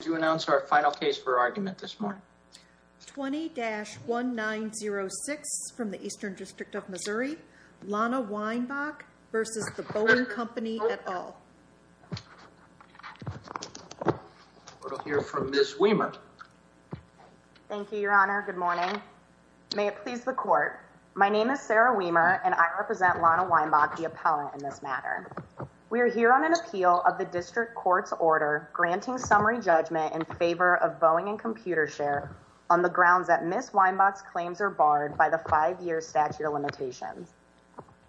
to announce our final case for argument this morning. 20-1906 from the Eastern District of Missouri, Lana Weinbach v. The Boeing Company et al. We'll hear from Ms. Weimer. Thank you, your honor. Good morning. May it please the court. My name is Sarah Weimer and I represent Lana Weinbach, the appellant in this matter. We are here on an appeal of the district court's order granting summary judgment in favor of Boeing and ComputerShare on the grounds that Ms. Weinbach's claims are barred by the five-year statute of limitations.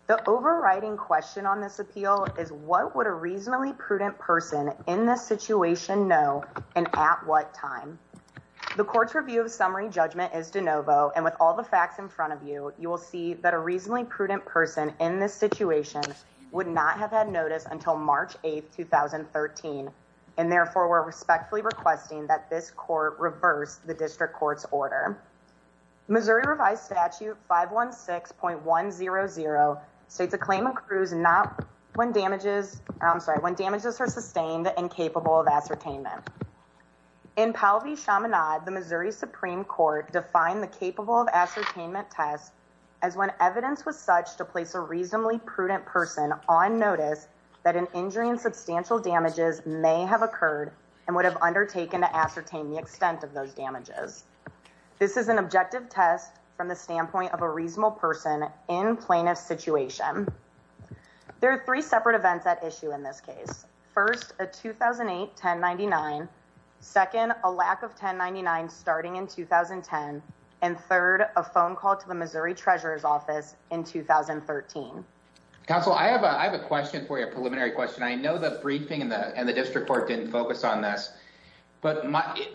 The overriding question on this appeal is what would a reasonably prudent person in this situation know and at what time? The court's review of summary judgment is de novo and with all the facts in front of you, you will see that a reasonably prudent person in this situation would not have had notice until March 8th, 2013 and therefore we're respectfully requesting that this court reverse the district court's order. Missouri revised statute 516.100 states a claim accrues not when damages I'm sorry when damages are sustained and capable of ascertainment. In Powell v. Chaminade, the Missouri Supreme Court defined the capable of ascertainment test as when evidence was such to place a injury and substantial damages may have occurred and would have undertaken to ascertain the extent of those damages. This is an objective test from the standpoint of a reasonable person in plaintiff situation. There are three separate events at issue in this case. First, a 2008 1099. Second, a lack of 1099 starting in 2010 and third, a phone call to the Missouri Treasurer's Office in 2013. Counsel, I have a question for you, a preliminary question. I know the briefing and the district court didn't focus on this but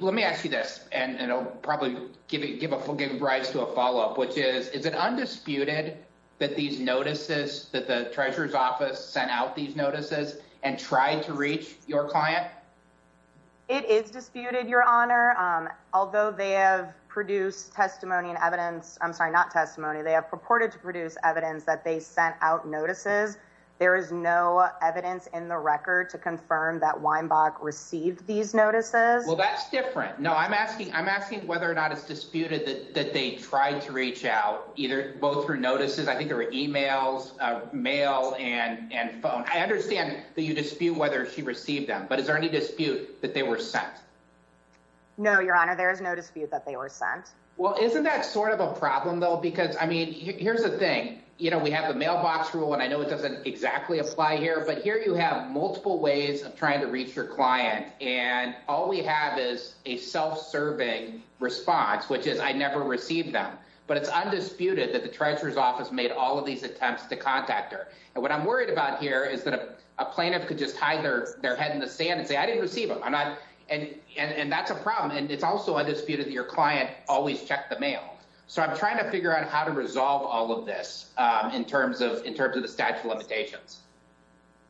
let me ask you this and it'll probably give rise to a follow-up which is, is it undisputed that these notices that the Treasurer's Office sent out these notices and tried to reach your client? It is disputed, your honor. Although they have produced testimony and evidence, I'm sorry, not testimony, they have purported to produce evidence that they sent out notices, there is no evidence in the record to confirm that Weinbach received these notices. Well, that's different. No, I'm asking, I'm asking whether or not it's disputed that they tried to reach out either both through notices, I think there were emails, mail and phone. I understand that you dispute whether she received them but is there any dispute that they were sent? No, your honor, there is no dispute that they were sent. Well, isn't that sort of a problem though because I mean here's the thing, you know, we have the mailbox rule and I know it doesn't exactly apply here but here you have multiple ways of trying to reach your client and all we have is a self-serving response which is I never received them but it's undisputed that the Treasurer's Office made all of these attempts to contact her and what I'm worried about here is that a and that's a problem and it's also undisputed that your client always checked the mail. So I'm trying to figure out how to resolve all of this in terms of the statute of limitations.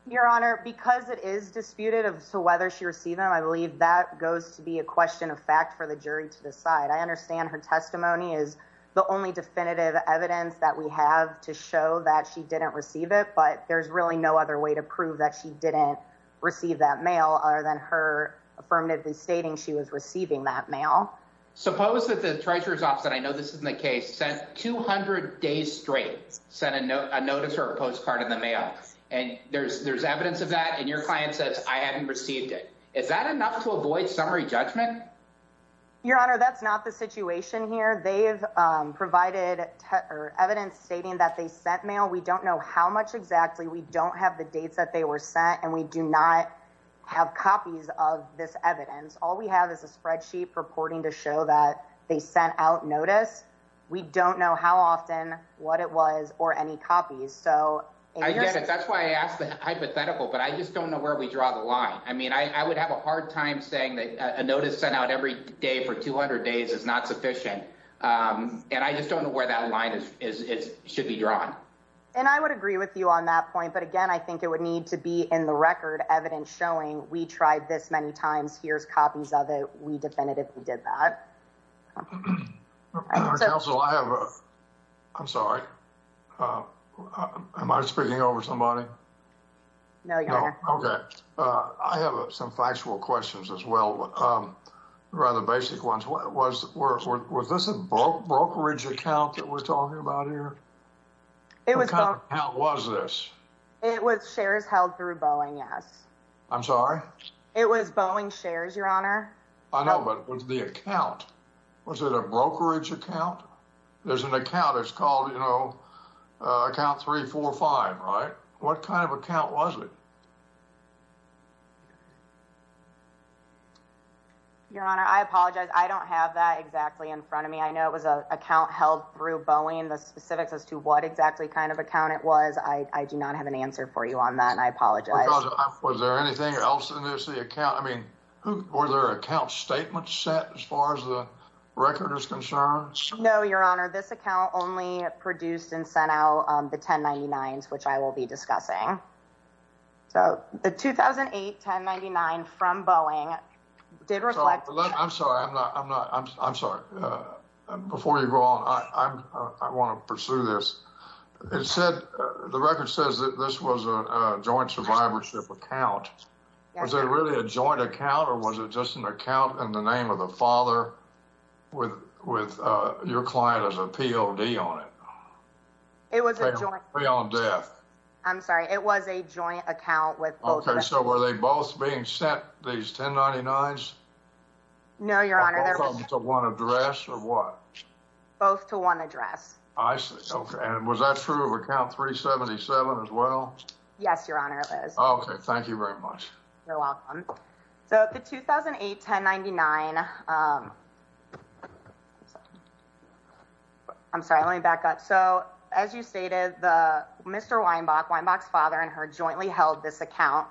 Your honor, because it is disputed as to whether she received them, I believe that goes to be a question of fact for the jury to decide. I understand her testimony is the only definitive evidence that we have to show that she didn't receive it but there's really no other way to she was receiving that mail. Suppose that the Treasurer's Office, and I know this isn't the case, sent 200 days straight, sent a notice or a postcard in the mail and there's evidence of that and your client says I haven't received it. Is that enough to avoid summary judgment? Your honor, that's not the situation here. They've provided evidence stating that they sent mail. We don't know how much exactly. We don't have the dates that they were sent and we do not have copies of this evidence. All we have is a spreadsheet purporting to show that they sent out notice. We don't know how often, what it was, or any copies. That's why I asked the hypothetical but I just don't know where we draw the line. I mean I would have a hard time saying that a notice sent out every day for 200 days is not sufficient and I just don't know where that line should be drawn. And I would agree with you on that point but again I think it would need to be in the record evidence showing we tried this many times. Here's copies of it. We definitively did that. Counselor, I'm sorry. Am I speaking over somebody? No, your honor. Okay. I have some factual questions as well. Rather basic ones. Was this a brokerage account that we're talking about here? What kind of account was this? It was shares held through Boeing, yes. I'm sorry? It was Boeing shares, your honor. I know but it was the account. Was it a brokerage account? There's an account that's called, you know, account 345, right? What kind of account was it? Your honor, I apologize. I don't have that exactly in front of me. I know it was an account held through Boeing. The specifics as to what exactly kind of account it was, I do not have an answer for you on that and I apologize. Was there anything else in this account? I mean, were there account statements set as far as the record is concerned? No, your honor. This account only produced and sent out the 1099s which I will be discussing. So the 2008 1099 from Boeing did reflect... I'm sorry, I'm not, I'm sorry. Before you go on, I want to pursue this. It said, the record says that this was a joint survivorship account. Was it really a joint account or was it just an account in the name of the father with your client as a POD on it? It was a joint. Free on death. So were they both being sent these 1099s? No, your honor. Both to one address or what? Both to one address. I see. Okay. And was that true of account 377 as well? Yes, your honor, it is. Okay. Thank you very much. You're welcome. So the 2008 1099... I'm sorry, let me back up. So as you stated, Mr. Weinbach, Weinbach's father and her jointly held this account.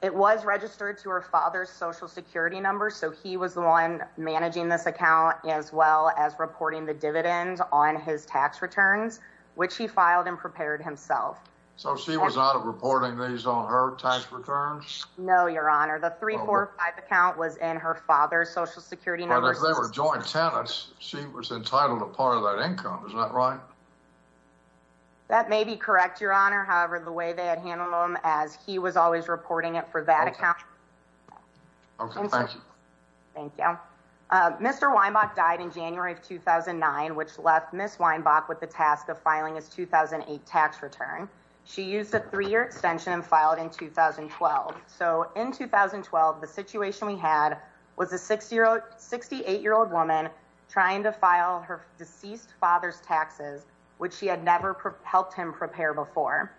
It was registered to her father's social security number. So he was the one managing this account as well as reporting the dividends on his tax returns, which he filed and prepared himself. So she was not reporting these on her tax returns? No, your honor. The 345 account was in her father's social security number. But if they were joint tenants, she was entitled to part of that income. Is that right? That may be correct, your honor. However, the way they had handled them, as he was always reporting it for that account. Okay. Thank you. Thank you. Mr. Weinbach died in January of 2009, which left Ms. Weinbach with the task of filing his 2008 tax return. She used a three-year extension and filed in 2012. So in 2012, the situation we had was a 68-year-old woman trying to file her deceased father's taxes which she had never helped him prepare before.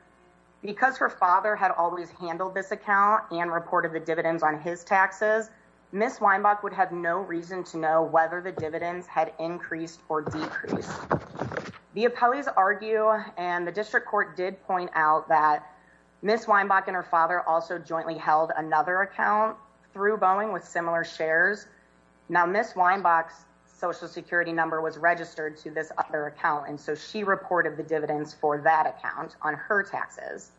Because her father had always handled this account and reported the dividends on his taxes, Ms. Weinbach would have no reason to know whether the dividends had increased or decreased. The appellees argue and the district court did point out that Ms. Weinbach and her father also jointly held another account through Boeing with similar shares. Now Ms. Weinbach's social security number was registered to this other account, and so she reported the dividends for that account on her taxes.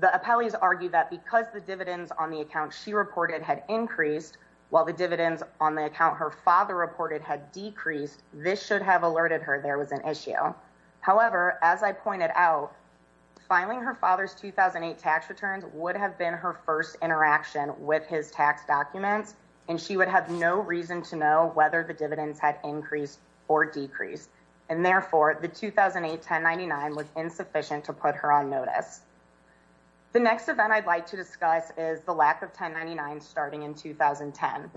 The appellees argue that because the dividends on the account she reported had increased while the dividends on the account her father reported had decreased, this should have alerted her there was an issue. However, as I pointed out, filing her father's 2008 tax returns would have been her first interaction with his tax documents, and she would have no reason to know whether the dividends had increased or decreased, and therefore the 2008 1099 was insufficient to put her on notice. The next event I'd like to discuss is the lack of 1099 starting in 2010.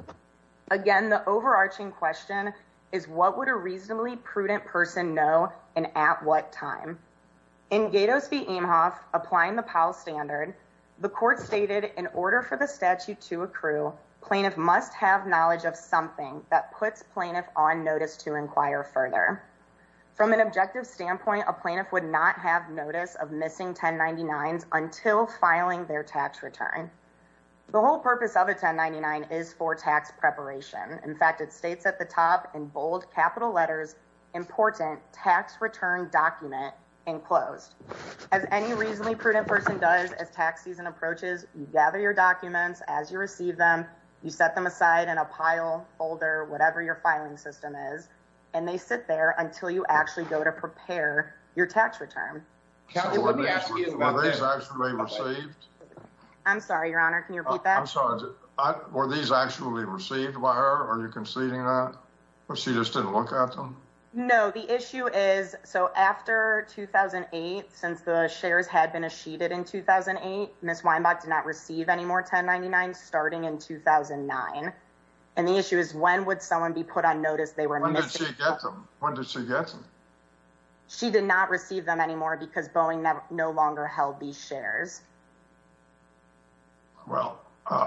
Again, the overarching question is what would a reasonably prudent person know and at what time? In Gatos v. Aimhoff, applying the Powell Standard, the court stated in order for the statute to plaintiff on notice to inquire further. From an objective standpoint, a plaintiff would not have notice of missing 1099s until filing their tax return. The whole purpose of a 1099 is for tax preparation. In fact, it states at the top in bold capital letters, IMPORTANT TAX RETURN DOCUMENT ENCLOSED. As any reasonably prudent person does as tax season approaches, you gather your documents as you receive them, you set them aside in a pile, folder, whatever your filing system is, and they sit there until you actually go to prepare your tax return. I'm sorry, your honor, can you repeat that? Were these actually received by her? Are you conceding that? Or she just didn't look at them? No, the issue is, so after 2008, since the shares had been sheeted in 2008, Ms. Weinbach did not receive any more 1099s starting in 2009. And the issue is, when would someone be put on notice they were missing? When did she get them? When did she get them? She did not receive them anymore because Boeing no longer held these shares. Well,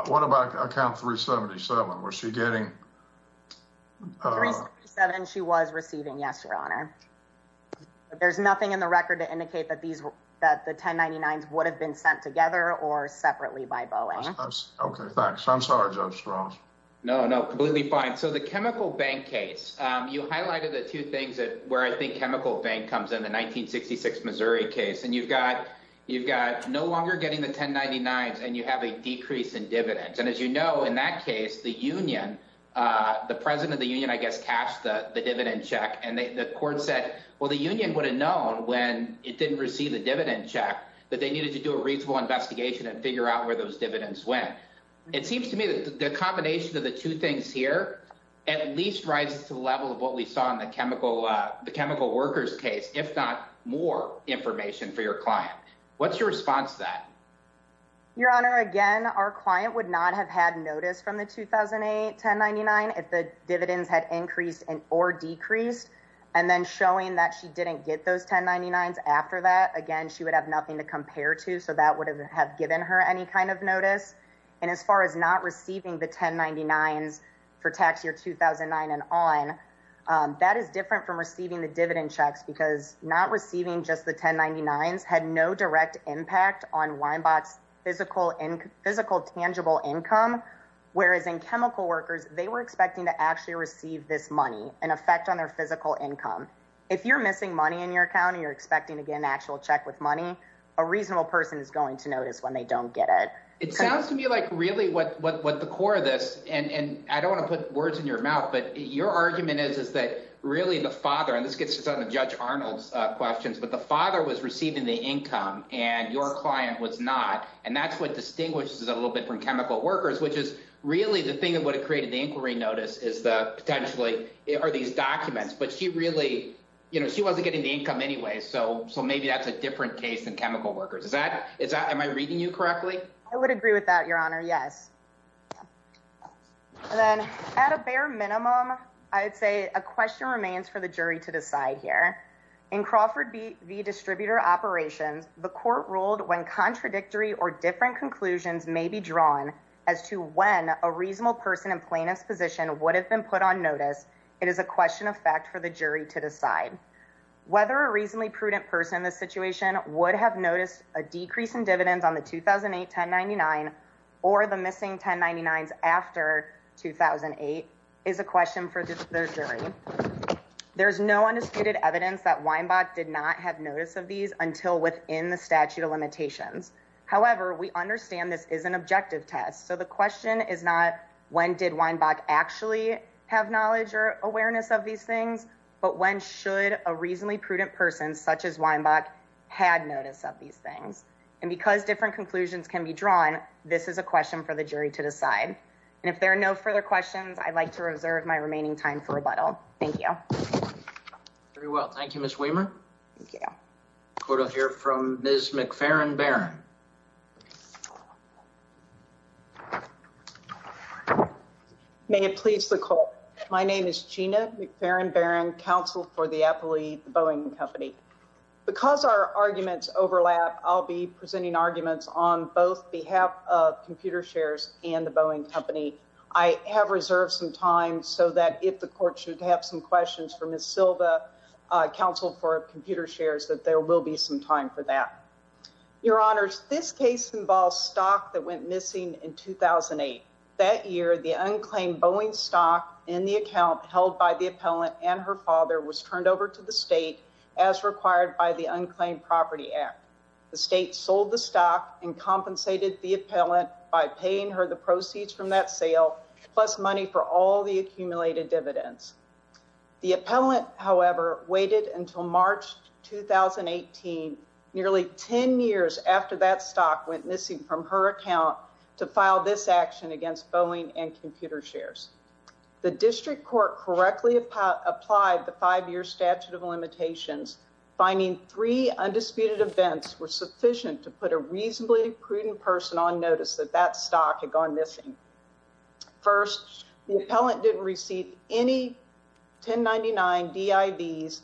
what about account 377? Was she getting... 377 she was receiving, yes, your honor. There's nothing in the record to indicate that these were that the 1099s would have been sent together or separately by Boeing. Okay, thanks. I'm sorry, Judge Strauss. No, no, completely fine. So the chemical bank case, you highlighted the two things that where I think chemical bank comes in the 1966 Missouri case, and you've got no longer getting the 1099s and you have a decrease in dividends. And as you know, in that case, the president of the union, I guess, cashed the dividend check and the court said, well, the union would have known when it didn't receive the dividend check, that they needed to do a reasonable investigation and figure out where those dividends went. It seems to me that the combination of the two things here at least rises to the level of what we saw in the chemical workers case, if not more information for your client. What's your response to that? Your honor, again, our client would not have had notice from the 2008 1099 if the she didn't get those 1099s after that, again, she would have nothing to compare to. So that would have given her any kind of notice. And as far as not receiving the 1099s for tax year 2009 and on, that is different from receiving the dividend checks because not receiving just the 1099s had no direct impact on Winebot's physical tangible income. Whereas in chemical workers, they were expecting to actually receive this money and affect on their physical income. If you're missing money in your account and you're expecting to get an actual check with money, a reasonable person is going to notice when they don't get it. It sounds to me like really what the core of this, and I don't want to put words in your mouth, but your argument is that really the father, and this gets to some of Judge Arnold's questions, but the father was receiving the income and your client was not. And that's what distinguishes it a little bit from chemical workers, which is really the thing that would have created the notice is the potentially are these documents, but she really, she wasn't getting the income anyway. So maybe that's a different case than chemical workers. Is that, am I reading you correctly? I would agree with that, your honor. Yes. And then at a bare minimum, I'd say a question remains for the jury to decide here. In Crawford v. Distributor Operations, the court ruled when contradictory or different conclusions may be drawn as to when a reasonable person in would have been put on notice. It is a question of fact for the jury to decide whether a reasonably prudent person in this situation would have noticed a decrease in dividends on the 2008 1099 or the missing 1099s after 2008 is a question for the jury. There's no undisputed evidence that Weinbach did not have notice of these until within the statute of limitations. However, we understand this is an objective test. So the question is not when did Weinbach actually have knowledge or awareness of these things, but when should a reasonably prudent person such as Weinbach had notice of these things and because different conclusions can be drawn, this is a question for the jury to decide. And if there are no further questions, I'd like to reserve my remaining time for rebuttal. Thank you. Very well. Thank you, Ms. Weimer. Court will hear from Ms. McFerrin Barron. May it please the court. My name is Gina McFerrin Barron, counsel for the appellate Boeing Company. Because our arguments overlap, I'll be presenting arguments on both behalf of computer shares and the Boeing Company. I have reserved some time so that if the court should have some questions for Ms. Silva, counsel for computer shares, that there will be some time for that. Your honors, this case involves stock that went missing in 2008. That year, the unclaimed Boeing stock in the account held by the appellant and her father was turned over to the state as required by the Unclaimed Property Act. The state sold the stock and compensated the appellant by paying her the proceeds from that sale plus money for all the accumulated dividends. The appellant, however, waited until March 2018, nearly 10 years after that stock went missing from her account to file this action against Boeing and computer shares. The district court correctly applied the five-year statute of limitations, finding three undisputed events were sufficient to put a reasonably prudent person on notice that that stock had gone missing. First, the appellant didn't receive any 1099-DIVs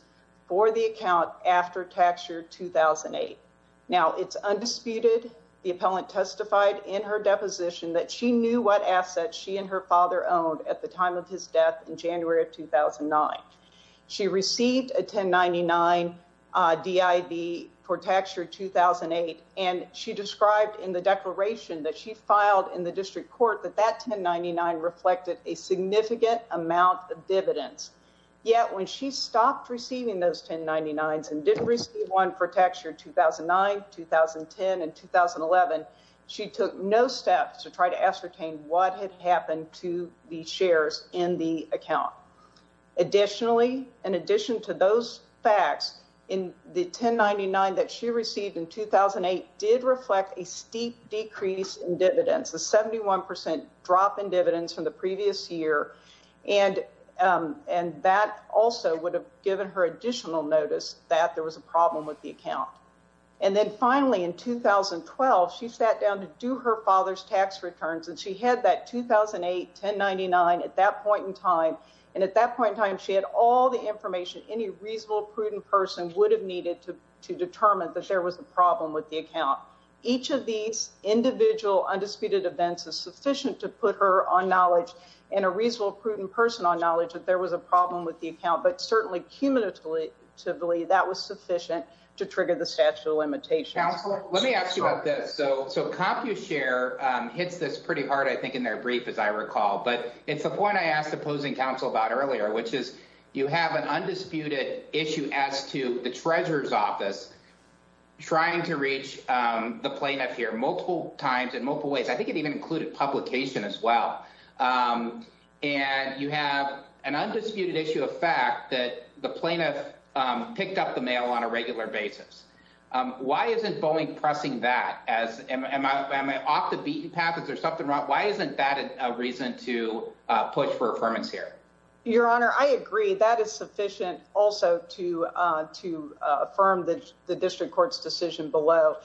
for the account after tax year 2008. Now, it's undisputed the appellant testified in her deposition that she knew what assets she and her father owned at the time of his death in January of 2009. She received a 1099-DIV for tax year 2008, and she described in the declaration that she filed in the district court that that 1099 reflected a significant amount of dividends. Yet, when she stopped receiving those 1099s and didn't receive one for tax year 2009, 2010, and 2011, she took no steps to try to ascertain what had happened to the shares in the account. Additionally, in addition to those facts, the 1099 that she received, she also received a steep decrease in dividends, a 71% drop in dividends from the previous year, and that also would have given her additional notice that there was a problem with the account. And then finally, in 2012, she sat down to do her father's tax returns, and she had that 2008 1099 at that point in time, and at that point in time, she had all the information any reasonable prudent person would have needed to determine that there was a problem with the account. Each of these individual undisputed events is sufficient to put her on knowledge and a reasonable prudent person on knowledge that there was a problem with the account, but certainly cumulatively that was sufficient to trigger the statute of limitations. Counselor, let me ask you about this. So CompuShare hits this pretty hard, I think, in their brief, as I recall, but it's the point I asked opposing counsel about earlier, which is you have an undisputed issue as to the treasurer's the plaintiff here multiple times in multiple ways. I think it even included publication as well, and you have an undisputed issue of fact that the plaintiff picked up the mail on a regular basis. Why isn't Boeing pressing that? Am I off the beaten path? Is there something wrong? Why isn't that a reason to push for affirmance here? Your Honor, I agree that is sufficient also to affirm the district court's decision below.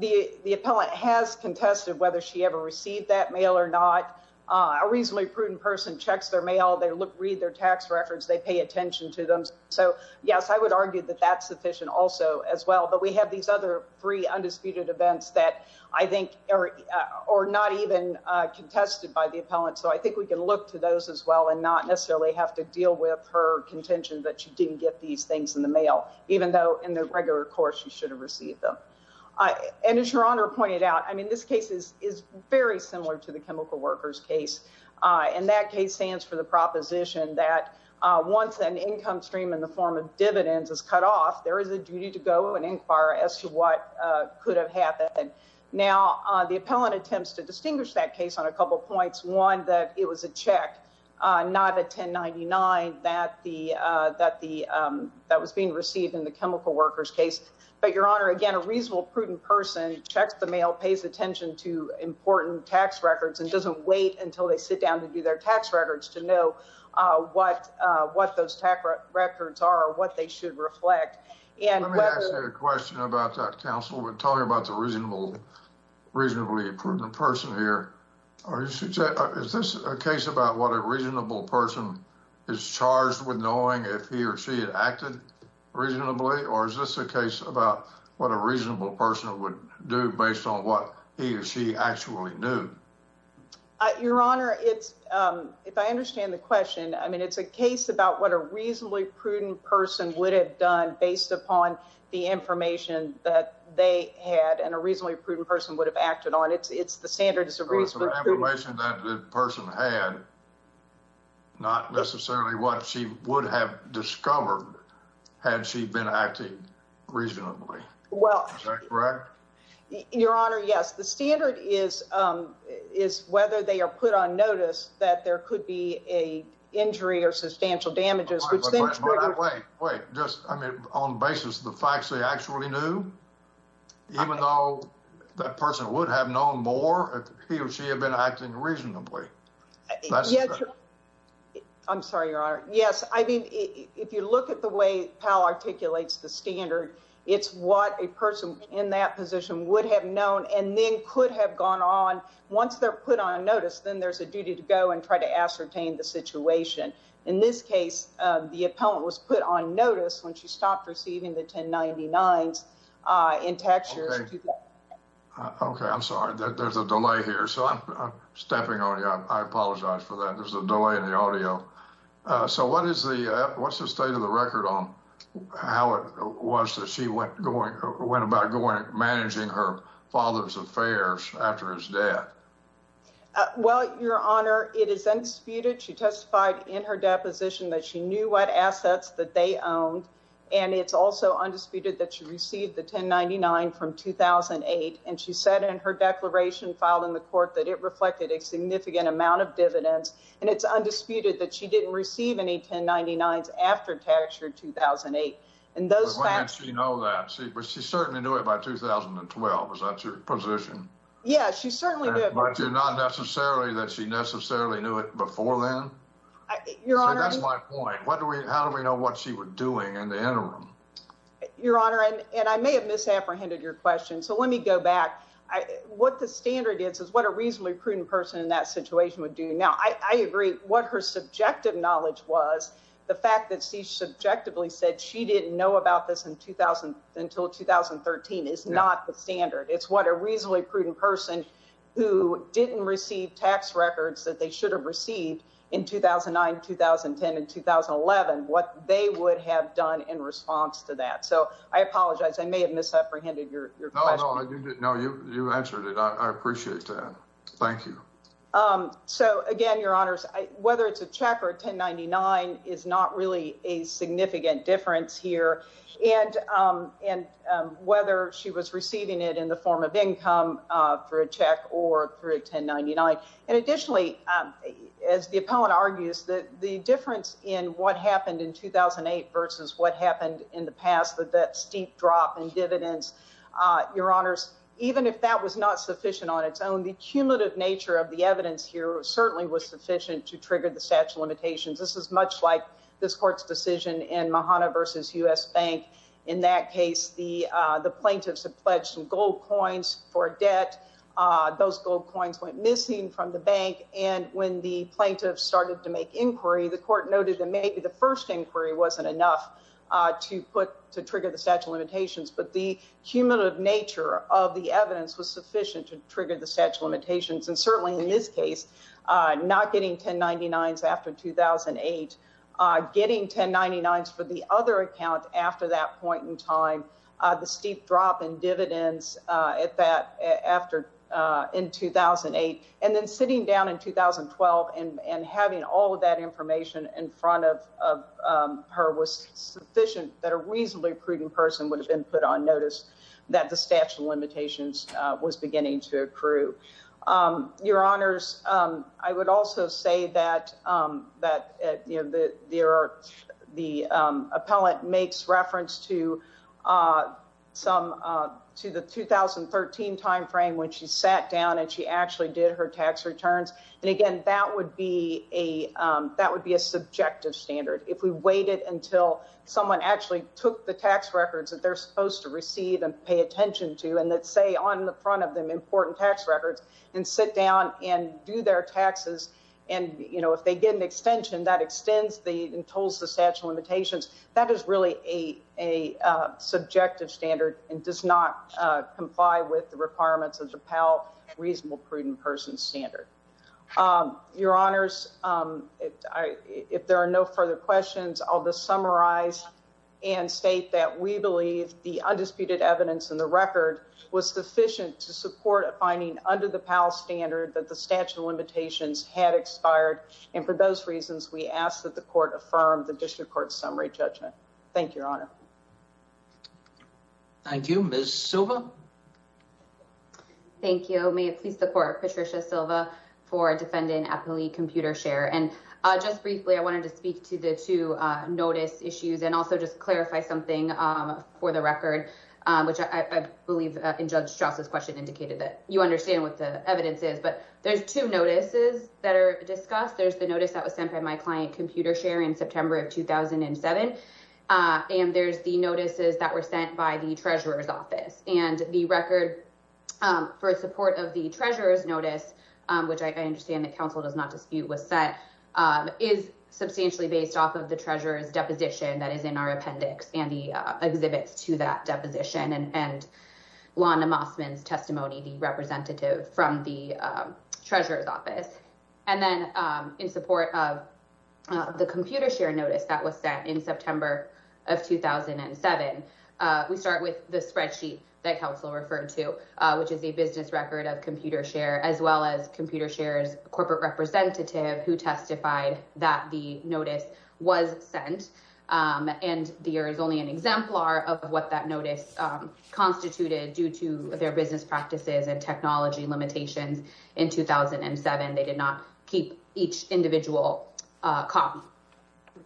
The appellant has contested whether she ever received that mail or not. A reasonably prudent person checks their mail, they read their tax records, they pay attention to them. So yes, I would argue that that's sufficient also as well, but we have these other three undisputed events that I think are not even contested by the appellant. So I think we can look to those as well and not necessarily have to deal with her contention that she didn't get these things in the mail, even though in the regular course, she should have received them. And as Your Honor pointed out, I mean, this case is very similar to the chemical workers case. And that case stands for the proposition that once an income stream in the form of dividends is cut off, there is a duty to go and inquire as to what could have happened. Now, the appellant attempts to distinguish that case on a couple of points. One, that it was a check, not a 1099 that was being received in the chemical workers case. But Your Honor, again, a reasonable prudent person checks the mail, pays attention to important tax records, and doesn't wait until they sit down to do their tax records to know what those tax records are, what they should reflect. Let me ask you a question about that, counsel. We're talking about the reasonably prudent person here. Is this a case about what a reasonable person is charged with knowing if he or she had acted reasonably? Or is this a case about what a reasonable person would do based on what he or she actually knew? Your Honor, if I understand the question, I mean, it's a case about what a reasonably prudent person would have done based upon the information that they had and a reasonably prudent person had, not necessarily what she would have discovered had she been acting reasonably. Your Honor, yes. The standard is whether they are put on notice that there could be a injury or substantial damages. Wait, wait, just, I mean, on the basis of the facts they actually knew, even though that person would have known more if he or she had been acting reasonably. I'm sorry, Your Honor. Yes. I mean, if you look at the way Powell articulates the standard, it's what a person in that position would have known and then could have gone on. Once they're put on notice, then there's a duty to go and try to ascertain the situation. In this case, the appellant was put on notice when she stopped receiving the 1099s. Okay, I'm sorry. There's a delay here. So I'm stepping on you. I apologize for that. There's a delay in the audio. So what is the, what's the state of the record on how it was that she went going, went about going, managing her father's affairs after his death? Well, Your Honor, it is undisputed. She testified in her deposition that she knew what assets that they owned. And it's also undisputed that she received the 1099 from 2008. And she said in her declaration filed in the court that it reflected a significant amount of dividends. And it's undisputed that she didn't receive any 1099s after tax year 2008. And those facts. But when did she know that? But she certainly knew it by 2012. Is that your position? Yeah, she certainly knew it. But not necessarily that she necessarily knew it before then. Your Honor, that's my point. What do we, how do we know what she was doing in the interim? Your Honor, and I may have misapprehended your question. So let me go back. What the standard is, is what a reasonably prudent person in that situation would do. Now. I agree what her subjective knowledge was. The fact that she subjectively said she didn't know about this in 2000 until 2013 is not the standard. It's what a reasonably prudent person who didn't receive tax records that they should have received in 2009, 2010, and 2011, what they would have done in response to that. So I apologize. I may have misapprehended your question. No, you answered it. I appreciate that. Thank you. So again, Your Honors, whether it's a check or 1099 is not really a significant difference here. And whether she was receiving it in the form of income for a check or through 1099. And additionally, as the opponent argues that the difference in what happened in 2008 versus what happened in the past with that steep drop in dividends. Your Honors, even if that was not sufficient on its own, the cumulative nature of the evidence here certainly was sufficient to trigger the statute limitations. This is much like this court's decision in Mahana versus U.S. Bank. In that case, the plaintiffs have pledged some gold coins for debt. Those gold coins went missing from the bank. And when the plaintiffs started to make inquiry, the court noted that maybe the first inquiry wasn't enough to put to trigger the statute limitations. But the cumulative nature of the evidence was sufficient to trigger the statute limitations. And certainly in this case, not getting 1099s after 2008, getting 1099s for the other account after that point in time, the steep drop in dividends in 2008, and then sitting down in 2012 and having all of that information in front of her was sufficient that a reasonably accruing person would have been put on I would also say that the appellant makes reference to the 2013 time frame when she sat down and she actually did her tax returns. And again, that would be a subjective standard. If we waited until someone actually took the tax records that they're supposed to receive and pay attention to, on the front of them, important tax records, and sit down and do their taxes, and if they get an extension, that extends and tolls the statute of limitations, that is really a subjective standard and does not comply with the requirements of the appellate reasonable prudent person standard. Your Honors, if there are no further questions, I'll just summarize and state that we believe the undisputed evidence in the record was sufficient to support a finding under the PAL standard that the statute of limitations had expired. And for those reasons, we ask that the court affirm the district court summary judgment. Thank you, Your Honor. Thank you. Ms. Silva? Thank you. May it please the court, Patricia Silva for defendant appellee computer share. And just briefly, I wanted to speak to the two notice issues and also just clarify something for the record, which I believe in Judge Strauss's question indicated that you understand what the evidence is. But there's two notices that are discussed. There's the notice that was sent by my client computer share in September of 2007. And there's the notices that were sent by the treasurer's office. And the record for support of the treasurer's notice, which I understand that counsel does not dispute was set, is substantially based off of the treasurer's appendix and the exhibits to that deposition and Lana Mossman's testimony, the representative from the treasurer's office. And then in support of the computer share notice that was sent in September of 2007, we start with the spreadsheet that counsel referred to, which is a business record of computer share, as well as computer shares, corporate representative who testified that the notice was sent. And the year is only an exemplar of what that notice constituted due to their business practices and technology limitations in 2007. They did not keep each individual copy.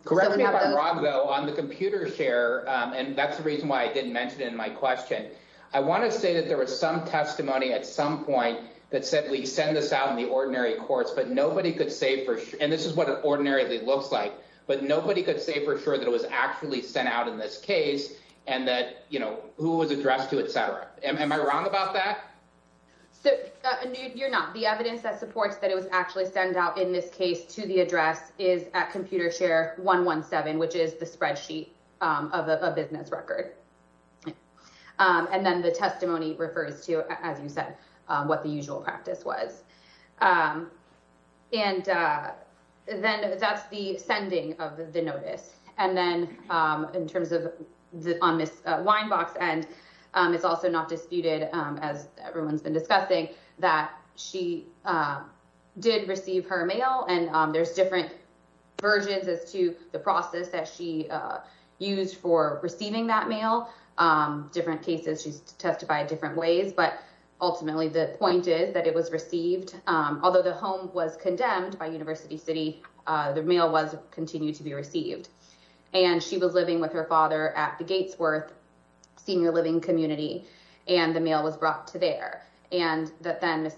Correct me if I'm wrong though on the computer share. And that's the reason why I didn't mention it in my question. I want to say that there was some testimony at some point that said we send this out in the ordinary courts, but nobody could say for sure. This is what it ordinarily looks like, but nobody could say for sure that it was actually sent out in this case and that who was addressed to, et cetera. Am I wrong about that? You're not. The evidence that supports that it was actually sent out in this case to the address is at computer share 117, which is the spreadsheet of a business record. And then the testimony refers to, as you said, what the usual practice was. And then that's the sending of the notice. And then in terms of on Ms. Weinbach's end, it's also not disputed, as everyone's been discussing, that she did receive her mail. And there's different versions as to the process that she used for receiving that mail. Different cases, she's testified different ways. But ultimately, the point is that it was received although the home was condemned by University City, the mail was continued to be received. And she was living with her father at the Gatesworth senior living community, and the mail was brought to there. And that then Ms.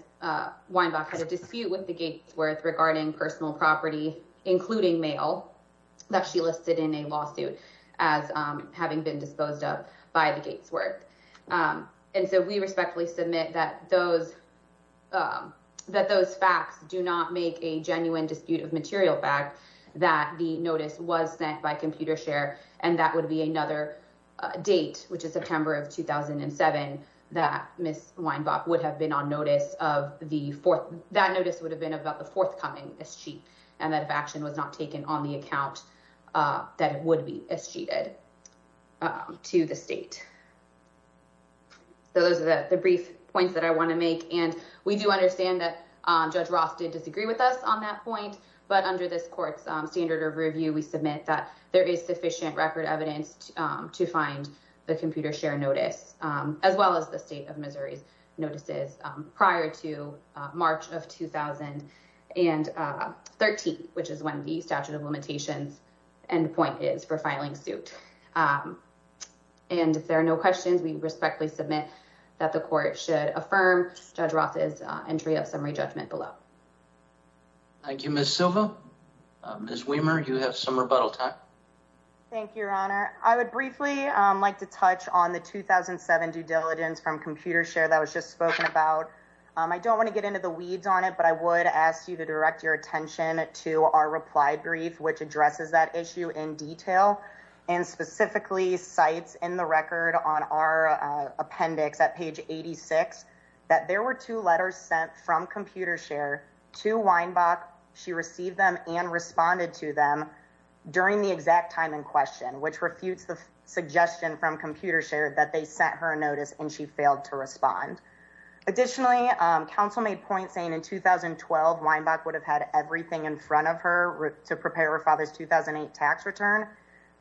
Weinbach had a dispute with the Gatesworth regarding personal property, including mail, that she listed in a lawsuit as having been that those facts do not make a genuine dispute of material fact that the notice was sent by computer share. And that would be another date, which is September of 2007, that Ms. Weinbach would have been on notice of the fourth. That notice would have been about the forthcoming escheat, and that if action was not taken on the account, that it would be escheated to the state. So those are the brief points that I want to make. And we do understand that Judge Roth did disagree with us on that point. But under this court's standard of review, we submit that there is sufficient record evidence to find the computer share notice, as well as the state of Missouri's notices prior to March of 2013, which is when the statute of limitations end point is for filing suit. And if there are no questions, we respectfully submit that the court should affirm Judge Roth's entry of summary judgment below. Thank you, Ms. Silva. Ms. Weimer, you have some rebuttal time. Thank you, Your Honor. I would briefly like to touch on the 2007 due diligence from computer share that was just spoken about. I don't want to get into the weeds on it, but I would ask you to direct your attention to our reply brief, which addresses that issue in specifically cites in the record on our appendix at page 86, that there were two letters sent from computer share to Weinbach. She received them and responded to them during the exact time in question, which refutes the suggestion from computer share that they sent her a notice and she failed to respond. Additionally, counsel made point saying in 2012, Weinbach would have everything in front of her to prepare her father's 2008 tax return.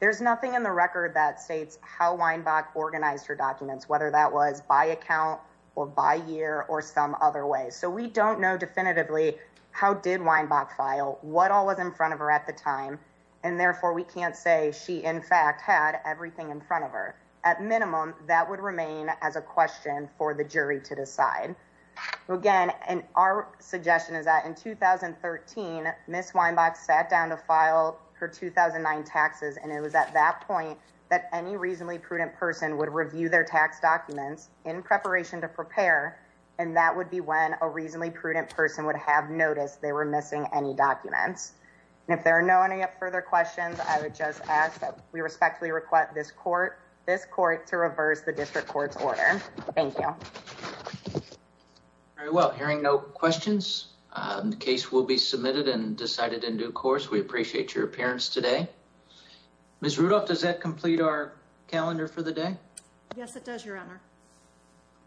There's nothing in the record that states how Weinbach organized her documents, whether that was by account or by year or some other way. So we don't know definitively how did Weinbach file, what all was in front of her at the time. And therefore we can't say she in fact had everything in front of her. At minimum, that would remain as a question for the jury to decide. Again, and our suggestion is that in 2013, Ms. Weinbach sat down to file her 2009 taxes. And it was at that point that any reasonably prudent person would review their tax documents in preparation to prepare. And that would be when a reasonably prudent person would have noticed they were missing any documents. And if there are any further questions, I would just ask that we respectfully request this court to reverse the district court's order. Thank you. Very well. Hearing no questions, the case will be submitted and decided in due course. We appreciate your appearance today. Ms. Rudolph, does that complete our calendar for the day? Yes, it does, your honor.